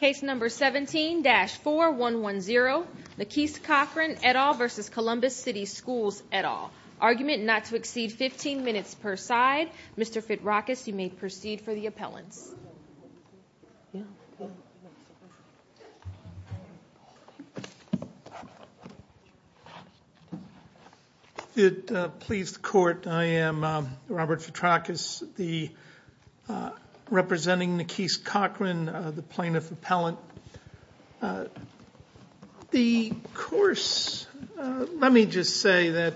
Case number 17-4110, Naqis Crochran v. Columbus City Schools, et al. Argument not to exceed 15 minutes per side. Mr. Fitrakis, you may proceed for the appellants. It pleases the Court, I am Robert Fitrakis, representing Naqis Crochran, the plaintiff appellant. The course, let me just say that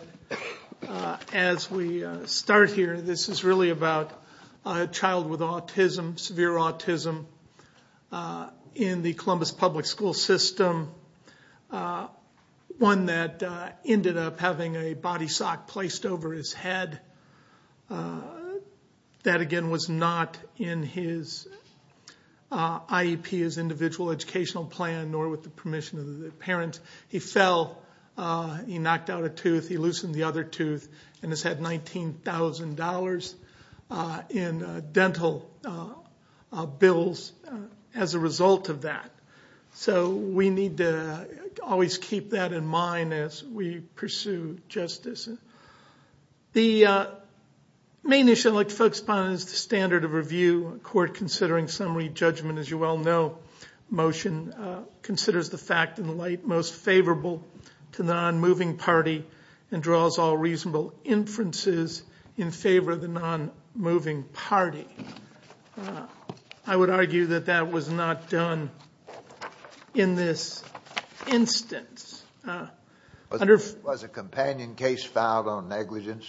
as we start here, this is really about a child with autism, severe autism, in the Columbus public school system. One that ended up having a body sock placed over his head. That, again, was not in his IEP, his individual educational plan, nor with the permission of the parents. He fell, he knocked out a tooth, he loosened the other tooth, and has had $19,000 in dental bills as a result of that. So we need to always keep that in mind as we pursue justice. The main issue I'd like to focus upon is the standard of review. A court considering summary judgment, as you well know, motion considers the fact in the light most favorable to the non-moving party and draws all reasonable inferences in favor of the non-moving party. I would argue that that was not done in this instance. Was a companion case filed on negligence?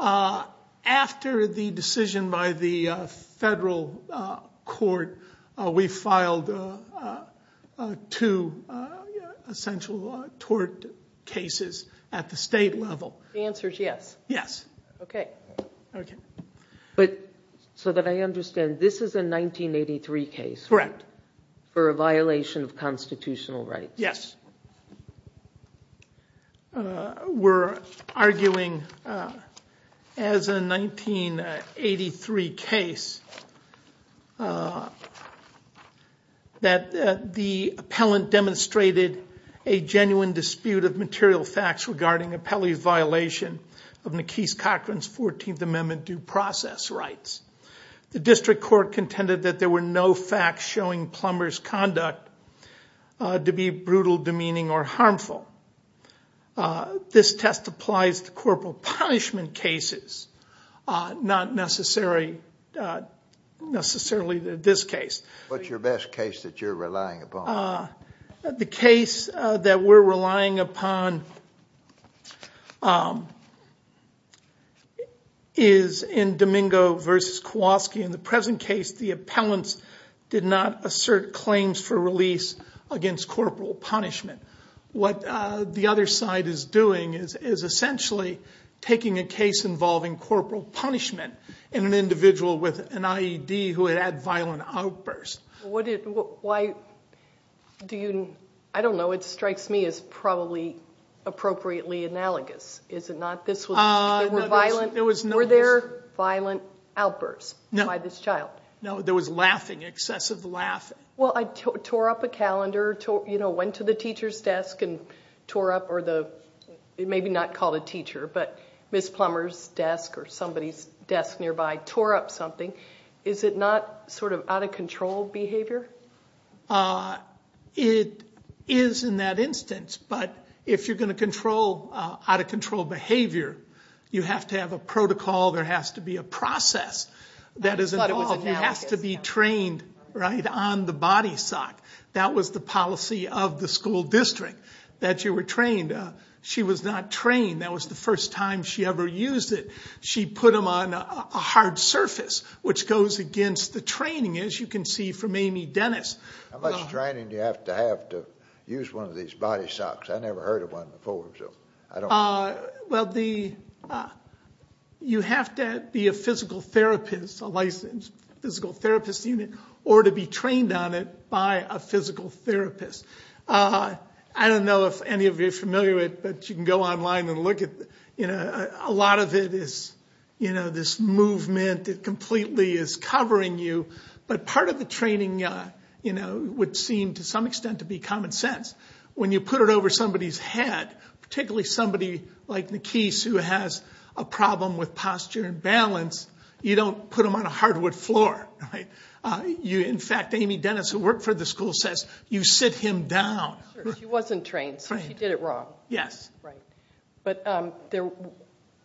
After the decision by the federal court, we filed two essential tort cases at the state level. The answer is yes. Yes. Okay. Okay. So that I understand, this is a 1983 case. Correct. For a violation of constitutional rights. Yes. We're arguing, as a 1983 case, that the appellant demonstrated a genuine dispute of material facts regarding an appellee's violation of Nikese Cochran's 14th Amendment due process rights. The district court contended that there were no facts showing Plummer's conduct to be brutal, demeaning, or harmful. This test applies to corporal punishment cases, not necessarily this case. What's your best case that you're relying upon? The case that we're relying upon is in Domingo v. Kowalski. In the present case, the appellants did not assert claims for release against corporal punishment. What the other side is doing is essentially taking a case involving corporal punishment in an individual with an IED who had had violent outbursts. I don't know. It strikes me as probably appropriately analogous. Were there violent outbursts? No. By this child? No, there was laughing, excessive laughing. Well, I tore up a calendar, went to the teacher's desk and tore up, or maybe not called a teacher, but Ms. Plummer's desk or somebody's desk nearby tore up something. Is it not sort of out-of-control behavior? It is in that instance, but if you're going to control out-of-control behavior, you have to have a protocol. There has to be a process. You have to be trained on the body sock. That was the policy of the school district, that you were trained. She was not trained. That was the first time she ever used it. She put them on a hard surface, which goes against the training, as you can see from Amy Dennis. How much training do you have to have to use one of these body socks? I never heard of one before, so I don't know. Well, you have to be a physical therapist, a licensed physical therapist unit, or to be trained on it by a physical therapist. I don't know if any of you are familiar with it, but you can go online and look at it. A lot of it is this movement that completely is covering you, but part of the training would seem to some extent to be common sense. When you put it over somebody's head, particularly somebody like Nikise, who has a problem with posture and balance, you don't put them on a hardwood floor. In fact, Amy Dennis, who worked for the school, says, you sit him down. She wasn't trained, so she did it wrong. Yes. Right.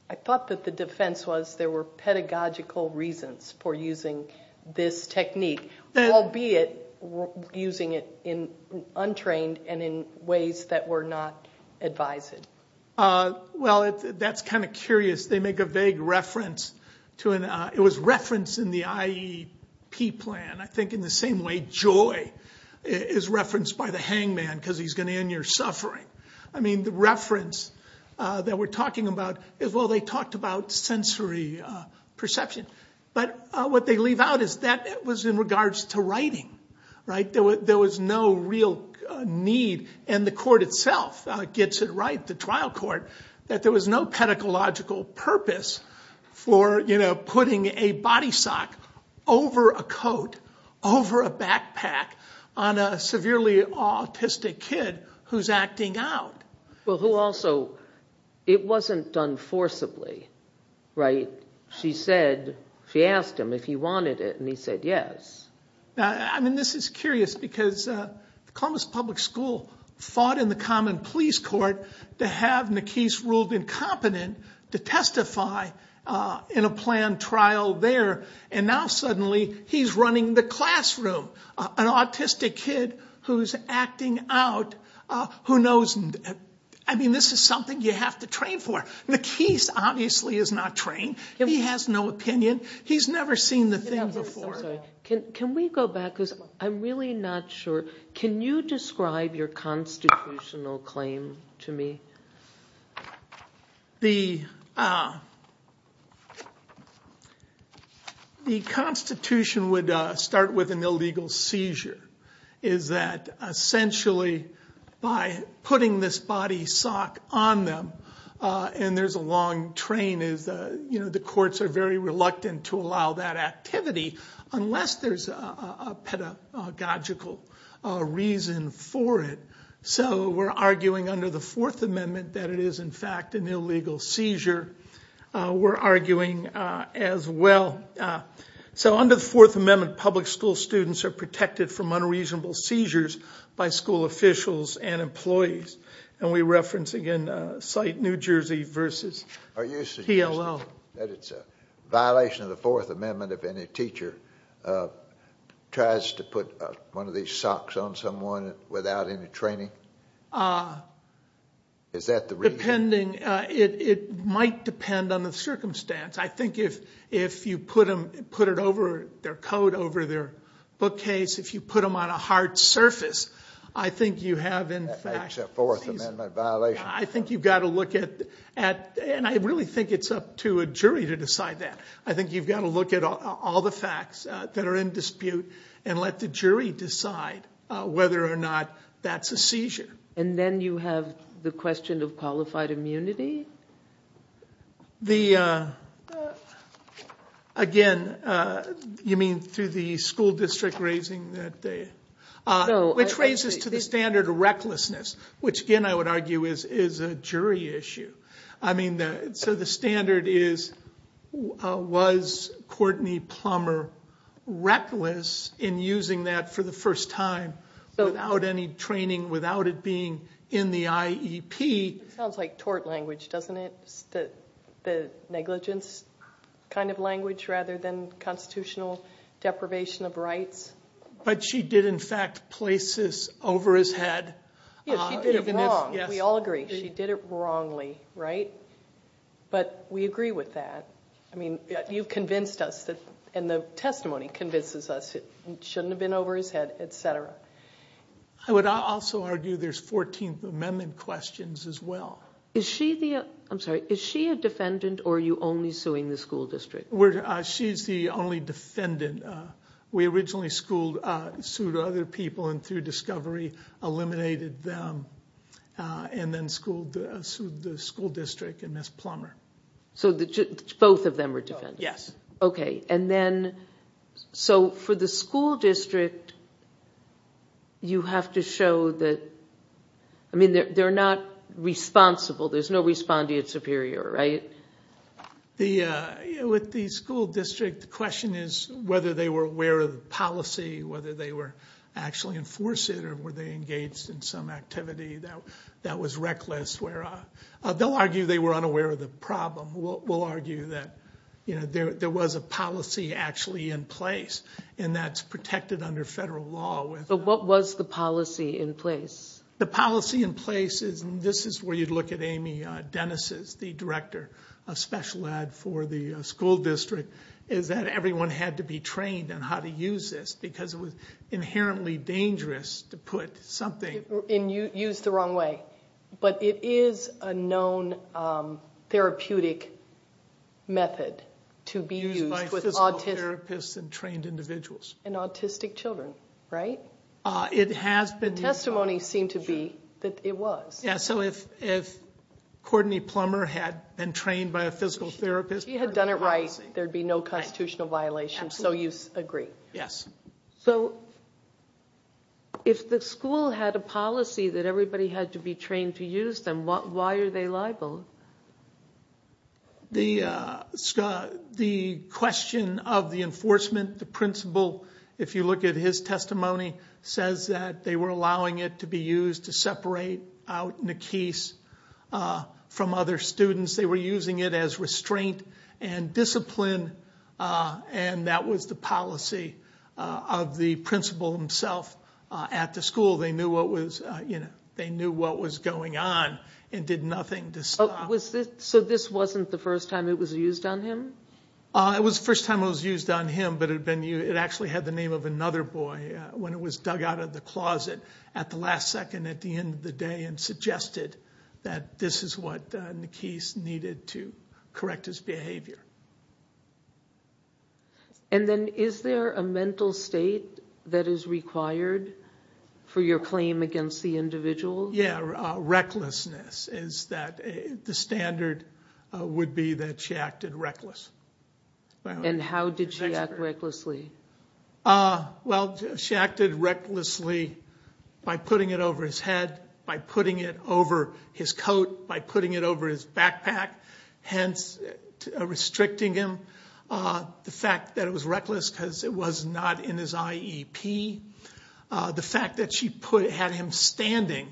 I thought that the defense was there were pedagogical reasons for using this technique, albeit using it untrained and in ways that were not advised. Well, that's kind of curious. They make a vague reference. It was referenced in the IEP plan. I think in the same way joy is referenced by the hangman because he's going to end your suffering. The reference that we're talking about is, well, they talked about sensory perception. But what they leave out is that it was in regards to writing. There was no real need, and the court itself gets it right, the trial court, that there was no pedagogical purpose for putting a body sock over a coat, over a backpack, on a severely autistic kid who's acting out. Well, who also, it wasn't done forcibly. She asked him if he wanted it, and he said yes. I mean, this is curious because Columbus Public School fought in the common police court to have Nakis ruled incompetent to testify in a planned trial there, and now suddenly he's running the classroom, an autistic kid who's acting out. I mean, this is something you have to train for. Nakis obviously is not trained. He has no opinion. He's never seen the thing before. I'm sorry. Can we go back because I'm really not sure. Can you describe your constitutional claim to me? The Constitution would start with an illegal seizure, is that essentially by putting this body sock on them and there's a long train. The courts are very reluctant to allow that activity unless there's a pedagogical reason for it. So we're arguing under the Fourth Amendment that it is in fact an illegal seizure. We're arguing as well. So under the Fourth Amendment, public school students are protected from unreasonable seizures by school officials and employees. And we reference again, cite New Jersey versus TLO. Are you suggesting that it's a violation of the Fourth Amendment if any teacher tries to put one of these socks on someone without any training? Is that the reason? It might depend on the circumstance. I think if you put their coat over their bookcase, if you put them on a hard surface, I think you have in fact... I think you've got to look at... And I really think it's up to a jury to decide that. I think you've got to look at all the facts that are in dispute and let the jury decide whether or not that's a seizure. And then you have the question of qualified immunity? Again, you mean through the school district raising that... Which raises to the standard of recklessness, which again I would argue is a jury issue. I mean, so the standard is, was Courtney Plummer reckless in using that for the first time without any training, without it being in the IEP? It sounds like tort language, doesn't it? rather than constitutional deprivation of rights. But she did in fact place this over his head. Yes, she did it wrong. We all agree. She did it wrongly, right? But we agree with that. I mean, you've convinced us and the testimony convinces us it shouldn't have been over his head, etc. I would also argue there's 14th Amendment questions as well. Is she the... I'm sorry. Is she a defendant or are you only suing the school district? She's the only defendant. We originally sued other people and through discovery eliminated them and then sued the school district and Ms. Plummer. So both of them were defendants? Yes. Okay, and then... So for the school district, you have to show that... I mean, they're not responsible. There's no respondeat superior, right? With the school district, the question is whether they were aware of the policy, whether they were actually enforcing it or were they engaged in some activity that was reckless. They'll argue they were unaware of the problem. We'll argue that there was a policy actually in place and that's protected under federal law. But what was the policy in place? The policy in place is... And this is where you'd look at Amy Dennis, the director of special ed for the school district, is that everyone had to be trained on how to use this because it was inherently dangerous to put something... And use the wrong way. But it is a known therapeutic method to be used with autistic... Used by physical therapists and trained individuals. And autistic children, right? It has been used by... Testimonies seem to be that it was. Yeah, so if Courtney Plummer had been trained by a physical therapist... If she had done it right, there'd be no constitutional violation. So you agree? Yes. So if the school had a policy that everybody had to be trained to use them, why are they liable? The question of the enforcement, the principal, if you look at his testimony, says that they were allowing it to be used to separate out Nikese from other students. They were using it as restraint and discipline, and that was the policy of the principal himself at the school. They knew what was going on and did nothing to stop... So this wasn't the first time it was used on him? It was the first time it was used on him, but it actually had the name of another boy when it was dug out of the closet at the last second, at the end of the day, and suggested that this is what Nikese needed to correct his behavior. And then is there a mental state that is required for your claim against the individual? Yeah, recklessness. The standard would be that she acted reckless. And how did she act recklessly? Well, she acted recklessly by putting it over his head, by putting it over his coat, by putting it over his backpack, hence restricting him. The fact that it was reckless because it was not in his IEP. The fact that she had him standing,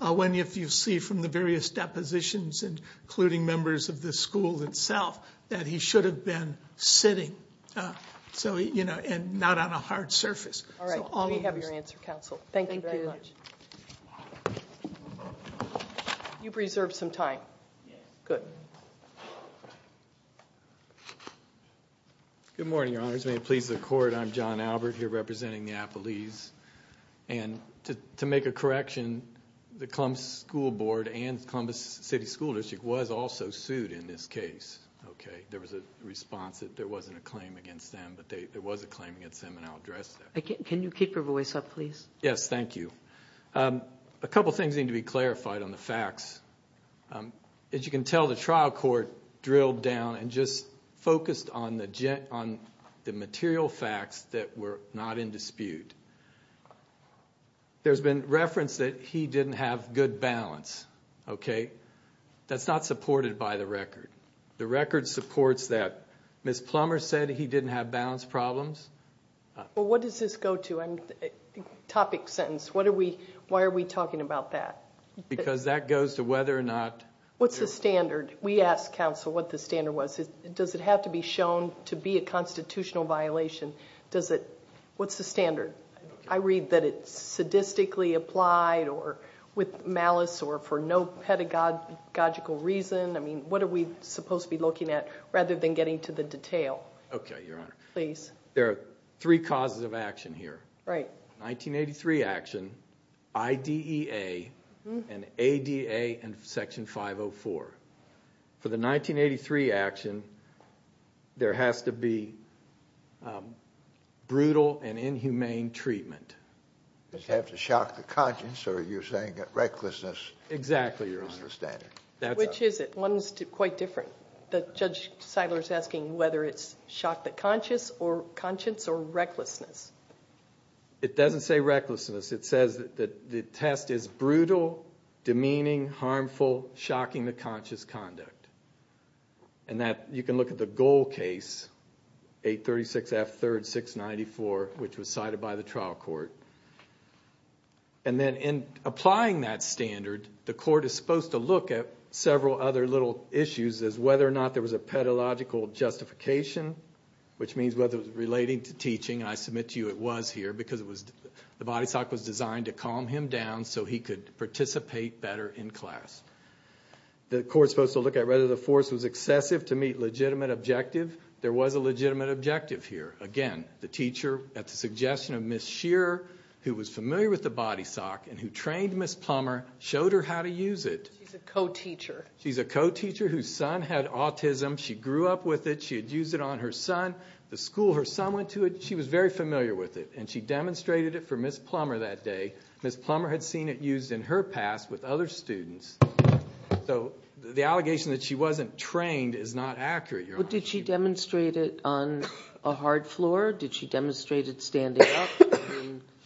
when you see from the various depositions, including members of the school itself, that he should have been sitting, and not on a hard surface. All right, we have your answer, Counsel. Thank you very much. Thank you. You've reserved some time. Yeah. Good. Good morning, Your Honors. May it please the Court, I'm John Albert here representing the appellees. And to make a correction, the Columbus School Board and Columbus City School District was also sued in this case. There was a response that there wasn't a claim against them, but there was a claim against them, and I'll address that. Can you keep your voice up, please? Yes, thank you. A couple things need to be clarified on the facts. As you can tell, the trial court drilled down and just focused on the material facts that were not in dispute. There's been reference that he didn't have good balance, okay? That's not supported by the record. The record supports that. Ms. Plummer said he didn't have balance problems. Well, what does this go to? Topic, sentence, why are we talking about that? Because that goes to whether or not there was. What's the standard? We asked counsel what the standard was. Does it have to be shown to be a constitutional violation? What's the standard? I read that it's sadistically applied or with malice or for no pedagogical reason. I mean, what are we supposed to be looking at rather than getting to the detail? Okay, Your Honor. Please. There are three causes of action here. Right. 1983 action, IDEA, and ADA and Section 504. For the 1983 action, there has to be brutal and inhumane treatment. Does it have to shock the conscience or are you saying that recklessness is the standard? Exactly, Your Honor. Which is it? One is quite different. Judge Seiler is asking whether it's shock the conscience or recklessness. It doesn't say recklessness. It says that the test is brutal, demeaning, harmful, shocking the conscious conduct. You can look at the goal case, 836 F. 3rd. 694, which was cited by the trial court. And then in applying that standard, the court is supposed to look at several other little issues as whether or not there was a pedagogical justification, which means whether it was relating to teaching, and I submit to you it was here, because the body sock was designed to calm him down so he could participate better in class. The court is supposed to look at whether the force was excessive to meet legitimate objective. There was a legitimate objective here. Again, the teacher, at the suggestion of Ms. Shearer, who was familiar with the body sock and who trained Ms. Plummer, showed her how to use it. She's a co-teacher. She's a co-teacher whose son had autism. She grew up with it. She had used it on her son. The school her son went to, she was very familiar with it, and she demonstrated it for Ms. Plummer that day. Ms. Plummer had seen it used in her past with other students. So the allegation that she wasn't trained is not accurate, Your Honor. Did she demonstrate it on a hard floor? Did she demonstrate it standing up?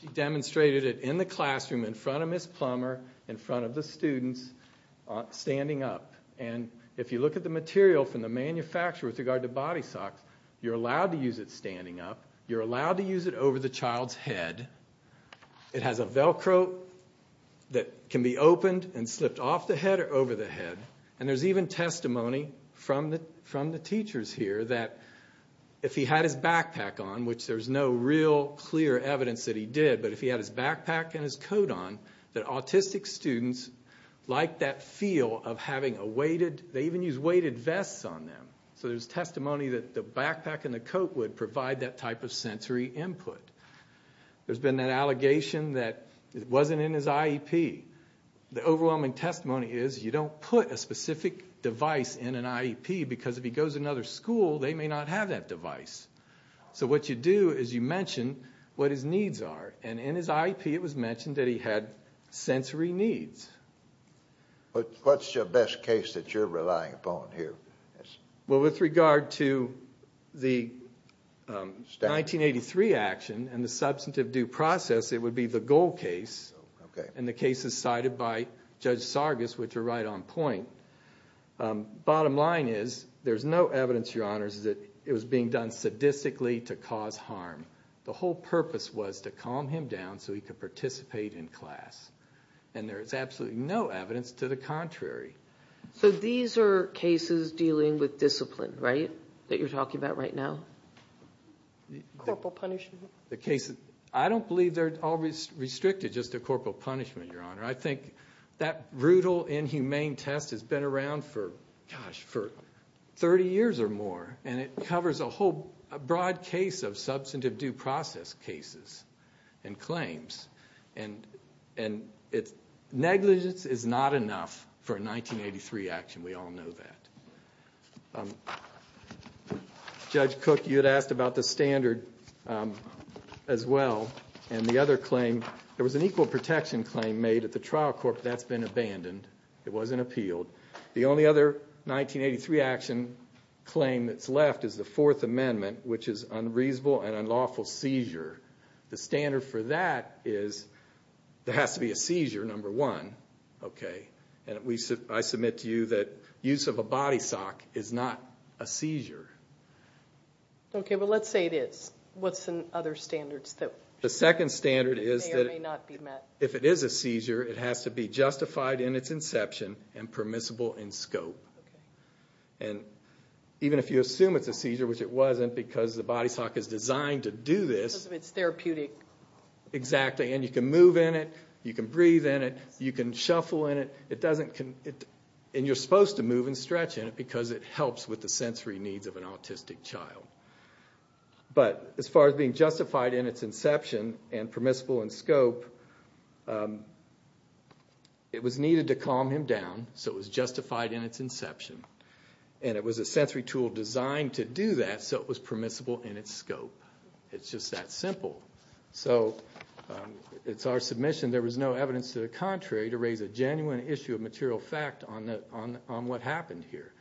She demonstrated it in the classroom in front of Ms. Plummer, in front of the students, standing up. If you look at the material from the manufacturer with regard to body socks, you're allowed to use it standing up. You're allowed to use it over the child's head. It has a Velcro that can be opened and slipped off the head or over the head. There's even testimony from the teachers here that if he had his backpack on, which there's no real clear evidence that he did, but if he had his backpack and his coat on, that autistic students liked that feel of having a weighted, they even used weighted vests on them. So there's testimony that the backpack and the coat would provide that type of sensory input. There's been that allegation that it wasn't in his IEP. The overwhelming testimony is you don't put a specific device in an IEP because if he goes to another school, they may not have that device. So what you do is you mention what his needs are, and in his IEP it was mentioned that he had sensory needs. What's your best case that you're relying upon here? Well, with regard to the 1983 action and the substantive due process, it would be the Gold case, and the case is cited by Judge Sargas, which are right on point. Bottom line is there's no evidence, Your Honors, that it was being done sadistically to cause harm. The whole purpose was to calm him down so he could participate in class, and there's absolutely no evidence to the contrary. So these are cases dealing with discipline, right, that you're talking about right now? Corporal punishment. I don't believe they're all restricted just to corporal punishment, Your Honor. I think that brutal, inhumane test has been around for, gosh, for 30 years or more, and it covers a whole broad case of substantive due process cases and claims. And negligence is not enough for a 1983 action. We all know that. Judge Cook, you had asked about the standard as well, and the other claim. There was an equal protection claim made at the trial court. That's been abandoned. It wasn't appealed. The only other 1983 action claim that's left is the Fourth Amendment, which is unreasonable and unlawful seizure. The standard for that is there has to be a seizure, number one, okay? And I submit to you that use of a body sock is not a seizure. Okay, but let's say it is. What's the other standards? The second standard is that if it is a seizure, it has to be justified in its inception and permissible in scope. And even if you assume it's a seizure, which it wasn't, because the body sock is designed to do this. It's therapeutic. Exactly, and you can move in it. You can breathe in it. You can shuffle in it. And you're supposed to move and stretch in it because it helps with the sensory needs of an autistic child. But as far as being justified in its inception and permissible in scope, it was needed to calm him down, so it was justified in its inception. And it was a sensory tool designed to do that, so it was permissible in its scope. It's just that simple. So it's our submission there was no evidence to the contrary to raise a genuine issue of material fact on what happened here.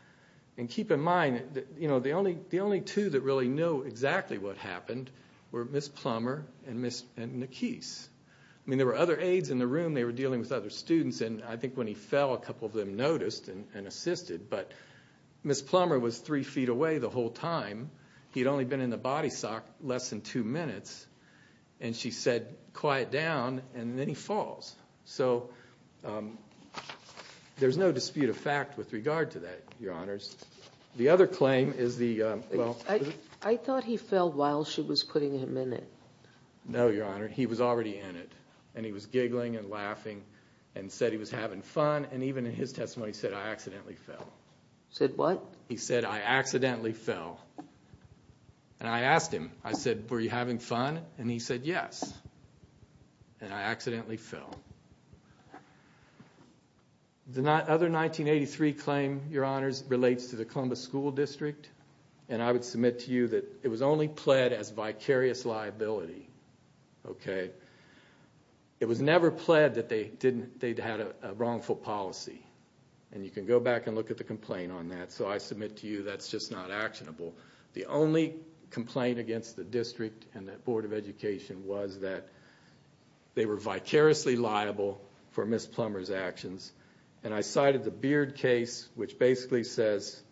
And keep in mind that the only two that really know exactly what happened were Ms. Plummer and Ms. Nakis. I mean, there were other aides in the room. They were dealing with other students, and I think when he fell a couple of them noticed and assisted. But Ms. Plummer was three feet away the whole time. He had only been in the body sock less than two minutes, and she said, quiet down, and then he falls. So there's no dispute of fact with regard to that, Your Honors. The other claim is the, well... I thought he fell while she was putting him in it. No, Your Honor, he was already in it. And he was giggling and laughing and said he was having fun, and even in his testimony he said, I accidentally fell. Said what? He said, I accidentally fell. And I asked him, I said, were you having fun? And he said, yes. And I accidentally fell. The other 1983 claim, Your Honors, relates to the Columbus School District, and I would submit to you that it was only pled as vicarious liability, okay? It was never pled that they'd had a wrongful policy. And you can go back and look at the complaint on that, so I submit to you that's just not actionable. The only complaint against the district and the Board of Education was that they were vicariously liable for Ms. Plummer's actions. And I cited the Beard case, which basically says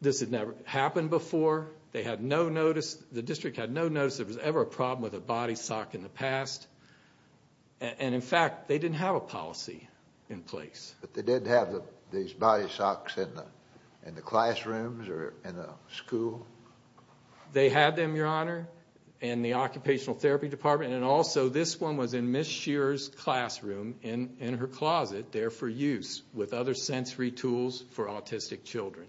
this had never happened before. They had no notice, the district had no notice there was ever a problem with a body sock in the past. And, in fact, they didn't have a policy in place. But they did have these body socks in the classrooms or in the school? They had them, Your Honor, in the occupational therapy department, and also this one was in Ms. Shearer's classroom in her closet there for use with other sensory tools for autistic children.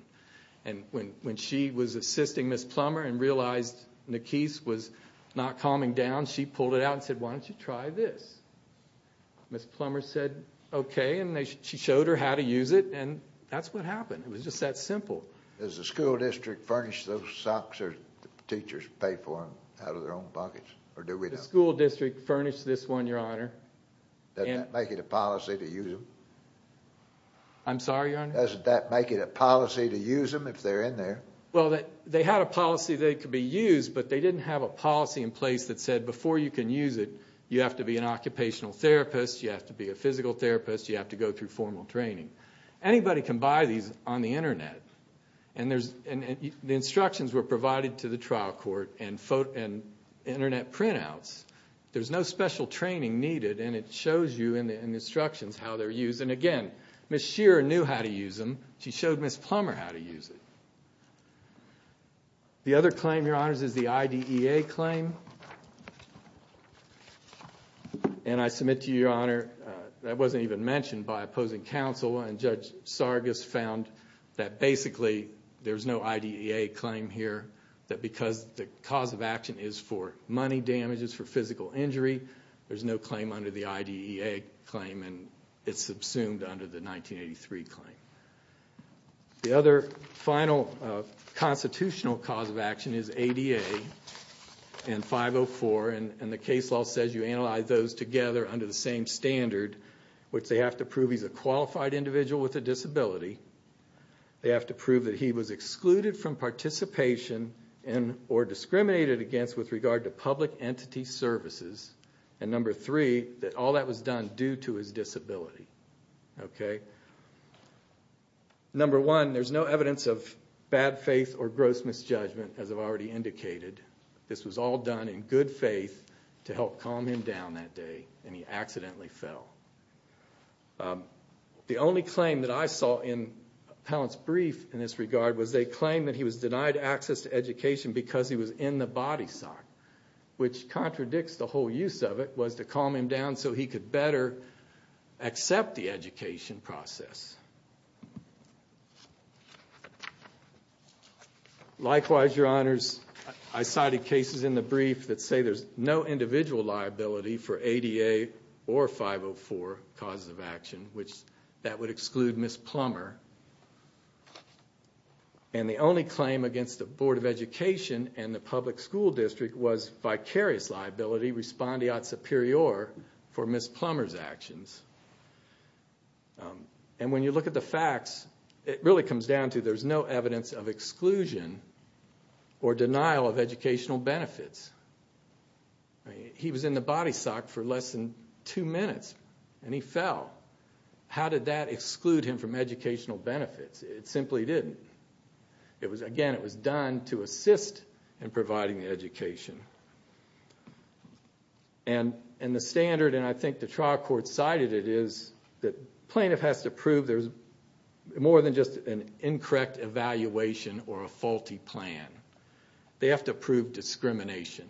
And when she was assisting Ms. Plummer and realized the case was not calming down, she pulled it out and said, why don't you try this? Ms. Plummer said, okay, and she showed her how to use it, and that's what happened. It was just that simple. Does the school district furnish those socks, or do teachers pay for them out of their own pockets, or do we not? The school district furnished this one, Your Honor. Doesn't that make it a policy to use them? I'm sorry, Your Honor? Doesn't that make it a policy to use them if they're in there? Well, they had a policy they could be used, but they didn't have a policy in place that said before you can use it, you have to be an occupational therapist, you have to be a physical therapist, you have to go through formal training. Anybody can buy these on the Internet, and the instructions were provided to the trial court and Internet printouts. There's no special training needed, and it shows you in the instructions how they're used. And again, Ms. Shearer knew how to use them. She showed Ms. Plummer how to use it. The other claim, Your Honors, is the IDEA claim, and I submit to you, Your Honor, that wasn't even mentioned by opposing counsel, and Judge Sargas found that basically there's no IDEA claim here, that because the cause of action is for money damages, for physical injury, there's no claim under the IDEA claim, and it's subsumed under the 1983 claim. The other final constitutional cause of action is ADA and 504, and the case law says you analyze those together under the same standard, which they have to prove he's a qualified individual with a disability, they have to prove that he was excluded from participation or discriminated against with regard to public entity services, and number three, that all that was done due to his disability. Number one, there's no evidence of bad faith or gross misjudgment, as I've already indicated. This was all done in good faith to help calm him down that day, and he accidentally fell. The only claim that I saw in Pallant's brief in this regard was a claim that he was denied access to education because he was in the body sock, which contradicts the whole use of it, was to calm him down so he could better accept the education process. Likewise, Your Honors, I cited cases in the brief that say there's no individual liability for ADA or 504 causes of action, which that would exclude Ms. Plummer, and the only claim against the Board of Education and the public school district was vicarious liability, respondeat superior, for Ms. Plummer's actions. And when you look at the facts, it really comes down to there's no evidence of exclusion or denial of educational benefits. He was in the body sock for less than two minutes, and he fell. How did that exclude him from educational benefits? It simply didn't. Again, it was done to assist in providing the education. And the standard, and I think the trial court cited it, is that a plaintiff has to prove there's more than just an incorrect evaluation or a faulty plan. They have to prove discrimination.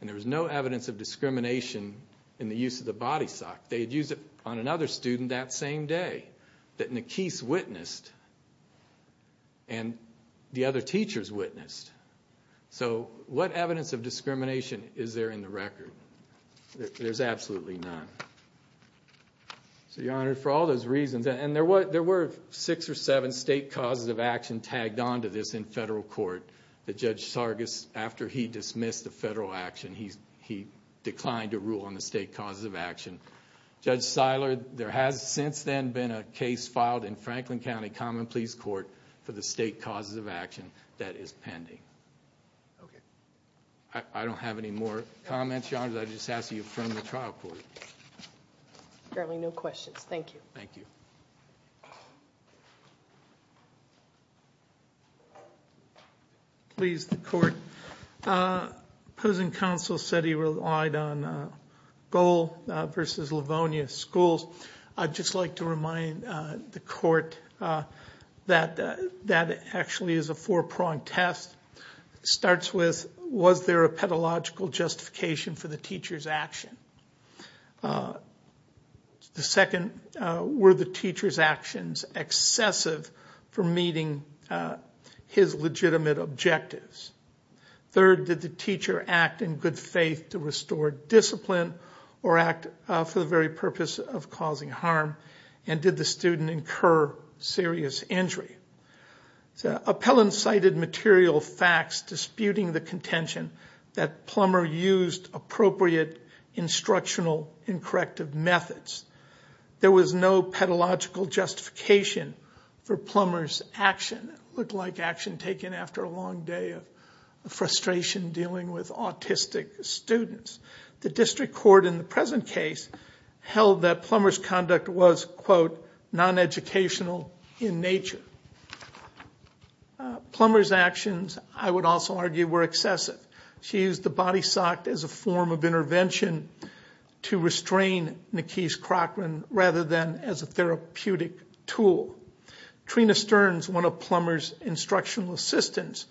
And there was no evidence of discrimination in the use of the body sock. They had used it on another student that same day that Nakeese witnessed and the other teachers witnessed. So what evidence of discrimination is there in the record? There's absolutely none. So, Your Honor, for all those reasons, and there were six or seven state causes of action tagged onto this in federal court that Judge Sargis, after he dismissed the federal action, he declined to rule on the state causes of action. Judge Seiler, there has since then been a case filed in Franklin County Common Pleas Court for the state causes of action that is pending. Okay. I don't have any more comments, Your Honor. I just ask that you affirm the trial court. Apparently no questions. Thank you. Thank you. Please, the court. Opposing counsel said he relied on Gohl versus Livonia schools. I'd just like to remind the court that that actually is a four-pronged test. It starts with, was there a pedagogical justification for the teacher's action? The second, were the teacher's actions excessive for meeting his legitimate objectives? Third, did the teacher act in good faith to restore discipline or act for the very purpose of causing harm? And did the student incur serious injury? Appellants cited material facts disputing the contention that Plummer used appropriate instructional and corrective methods. There was no pedagogical justification for Plummer's action. It looked like action taken after a long day of frustration dealing with autistic students. The district court in the present case held that Plummer's conduct was, quote, non-educational in nature. Plummer's actions, I would also argue, were excessive. She used the body sock as a form of intervention to restrain Nakeesh Crocker rather than as a therapeutic tool. Trina Stearns, one of Plummer's instructional assistants,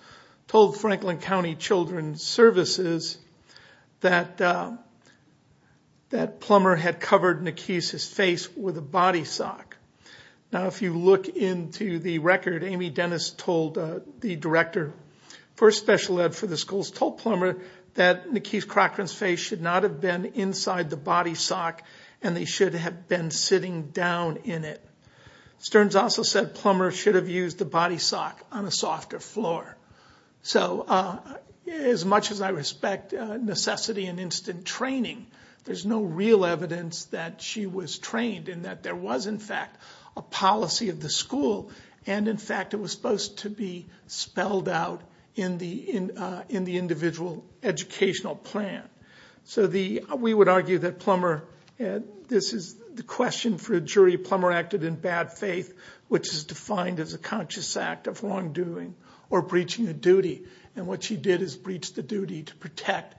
told Franklin County Children's Services that Plummer had covered Nakeesh's face with a body sock. Now, if you look into the record, Amy Dennis, the director for special ed for the schools, told Plummer that Nakeesh Crocker's face should not have been inside the body sock and they should have been sitting down in it. Stearns also said Plummer should have used the body sock on a softer floor. So as much as I respect necessity and instant training, there's no real evidence that she was trained and that there was in fact a policy of the school and in fact it was supposed to be spelled out in the individual educational plan. We would argue that this is the question for a jury. Plummer acted in bad faith, which is defined as a conscious act of wrongdoing or breaching a duty. And what she did is breach the duty to protect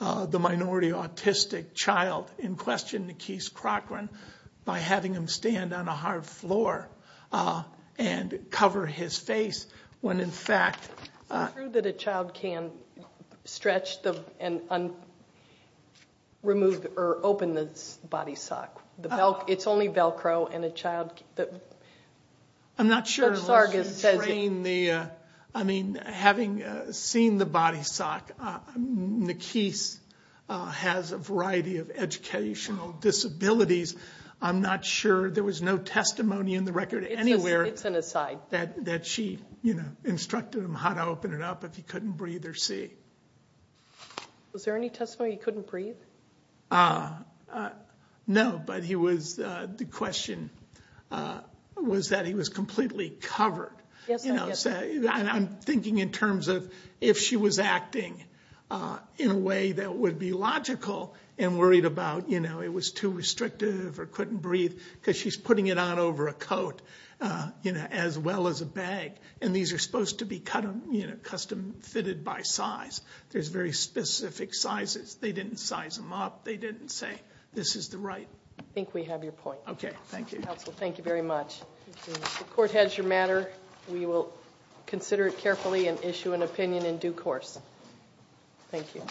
the minority autistic child in question, Nakeesh Crocker, by having him stand on a hard floor and cover his face when in fact... Is it true that a child can stretch and remove or open the body sock? It's only Velcro and a child... I'm not sure unless you train the... I mean, having seen the body sock, Nakeesh has a variety of educational disabilities. I'm not sure. There was no testimony in the record anywhere... It's an aside. ...that she instructed him how to open it up if he couldn't breathe or see. Was there any testimony he couldn't breathe? No, but the question was that he was completely covered. I'm thinking in terms of if she was acting in a way that would be logical and worried about it was too restrictive or couldn't breathe because she's putting it on over a coat as well as a bag, and these are supposed to be custom fitted by size. There's very specific sizes. They didn't size them up. They didn't say, this is the right... I think we have your point. Okay, thank you. Counsel, thank you very much. The court has your matter. We will consider it carefully and issue an opinion in due course. Thank you.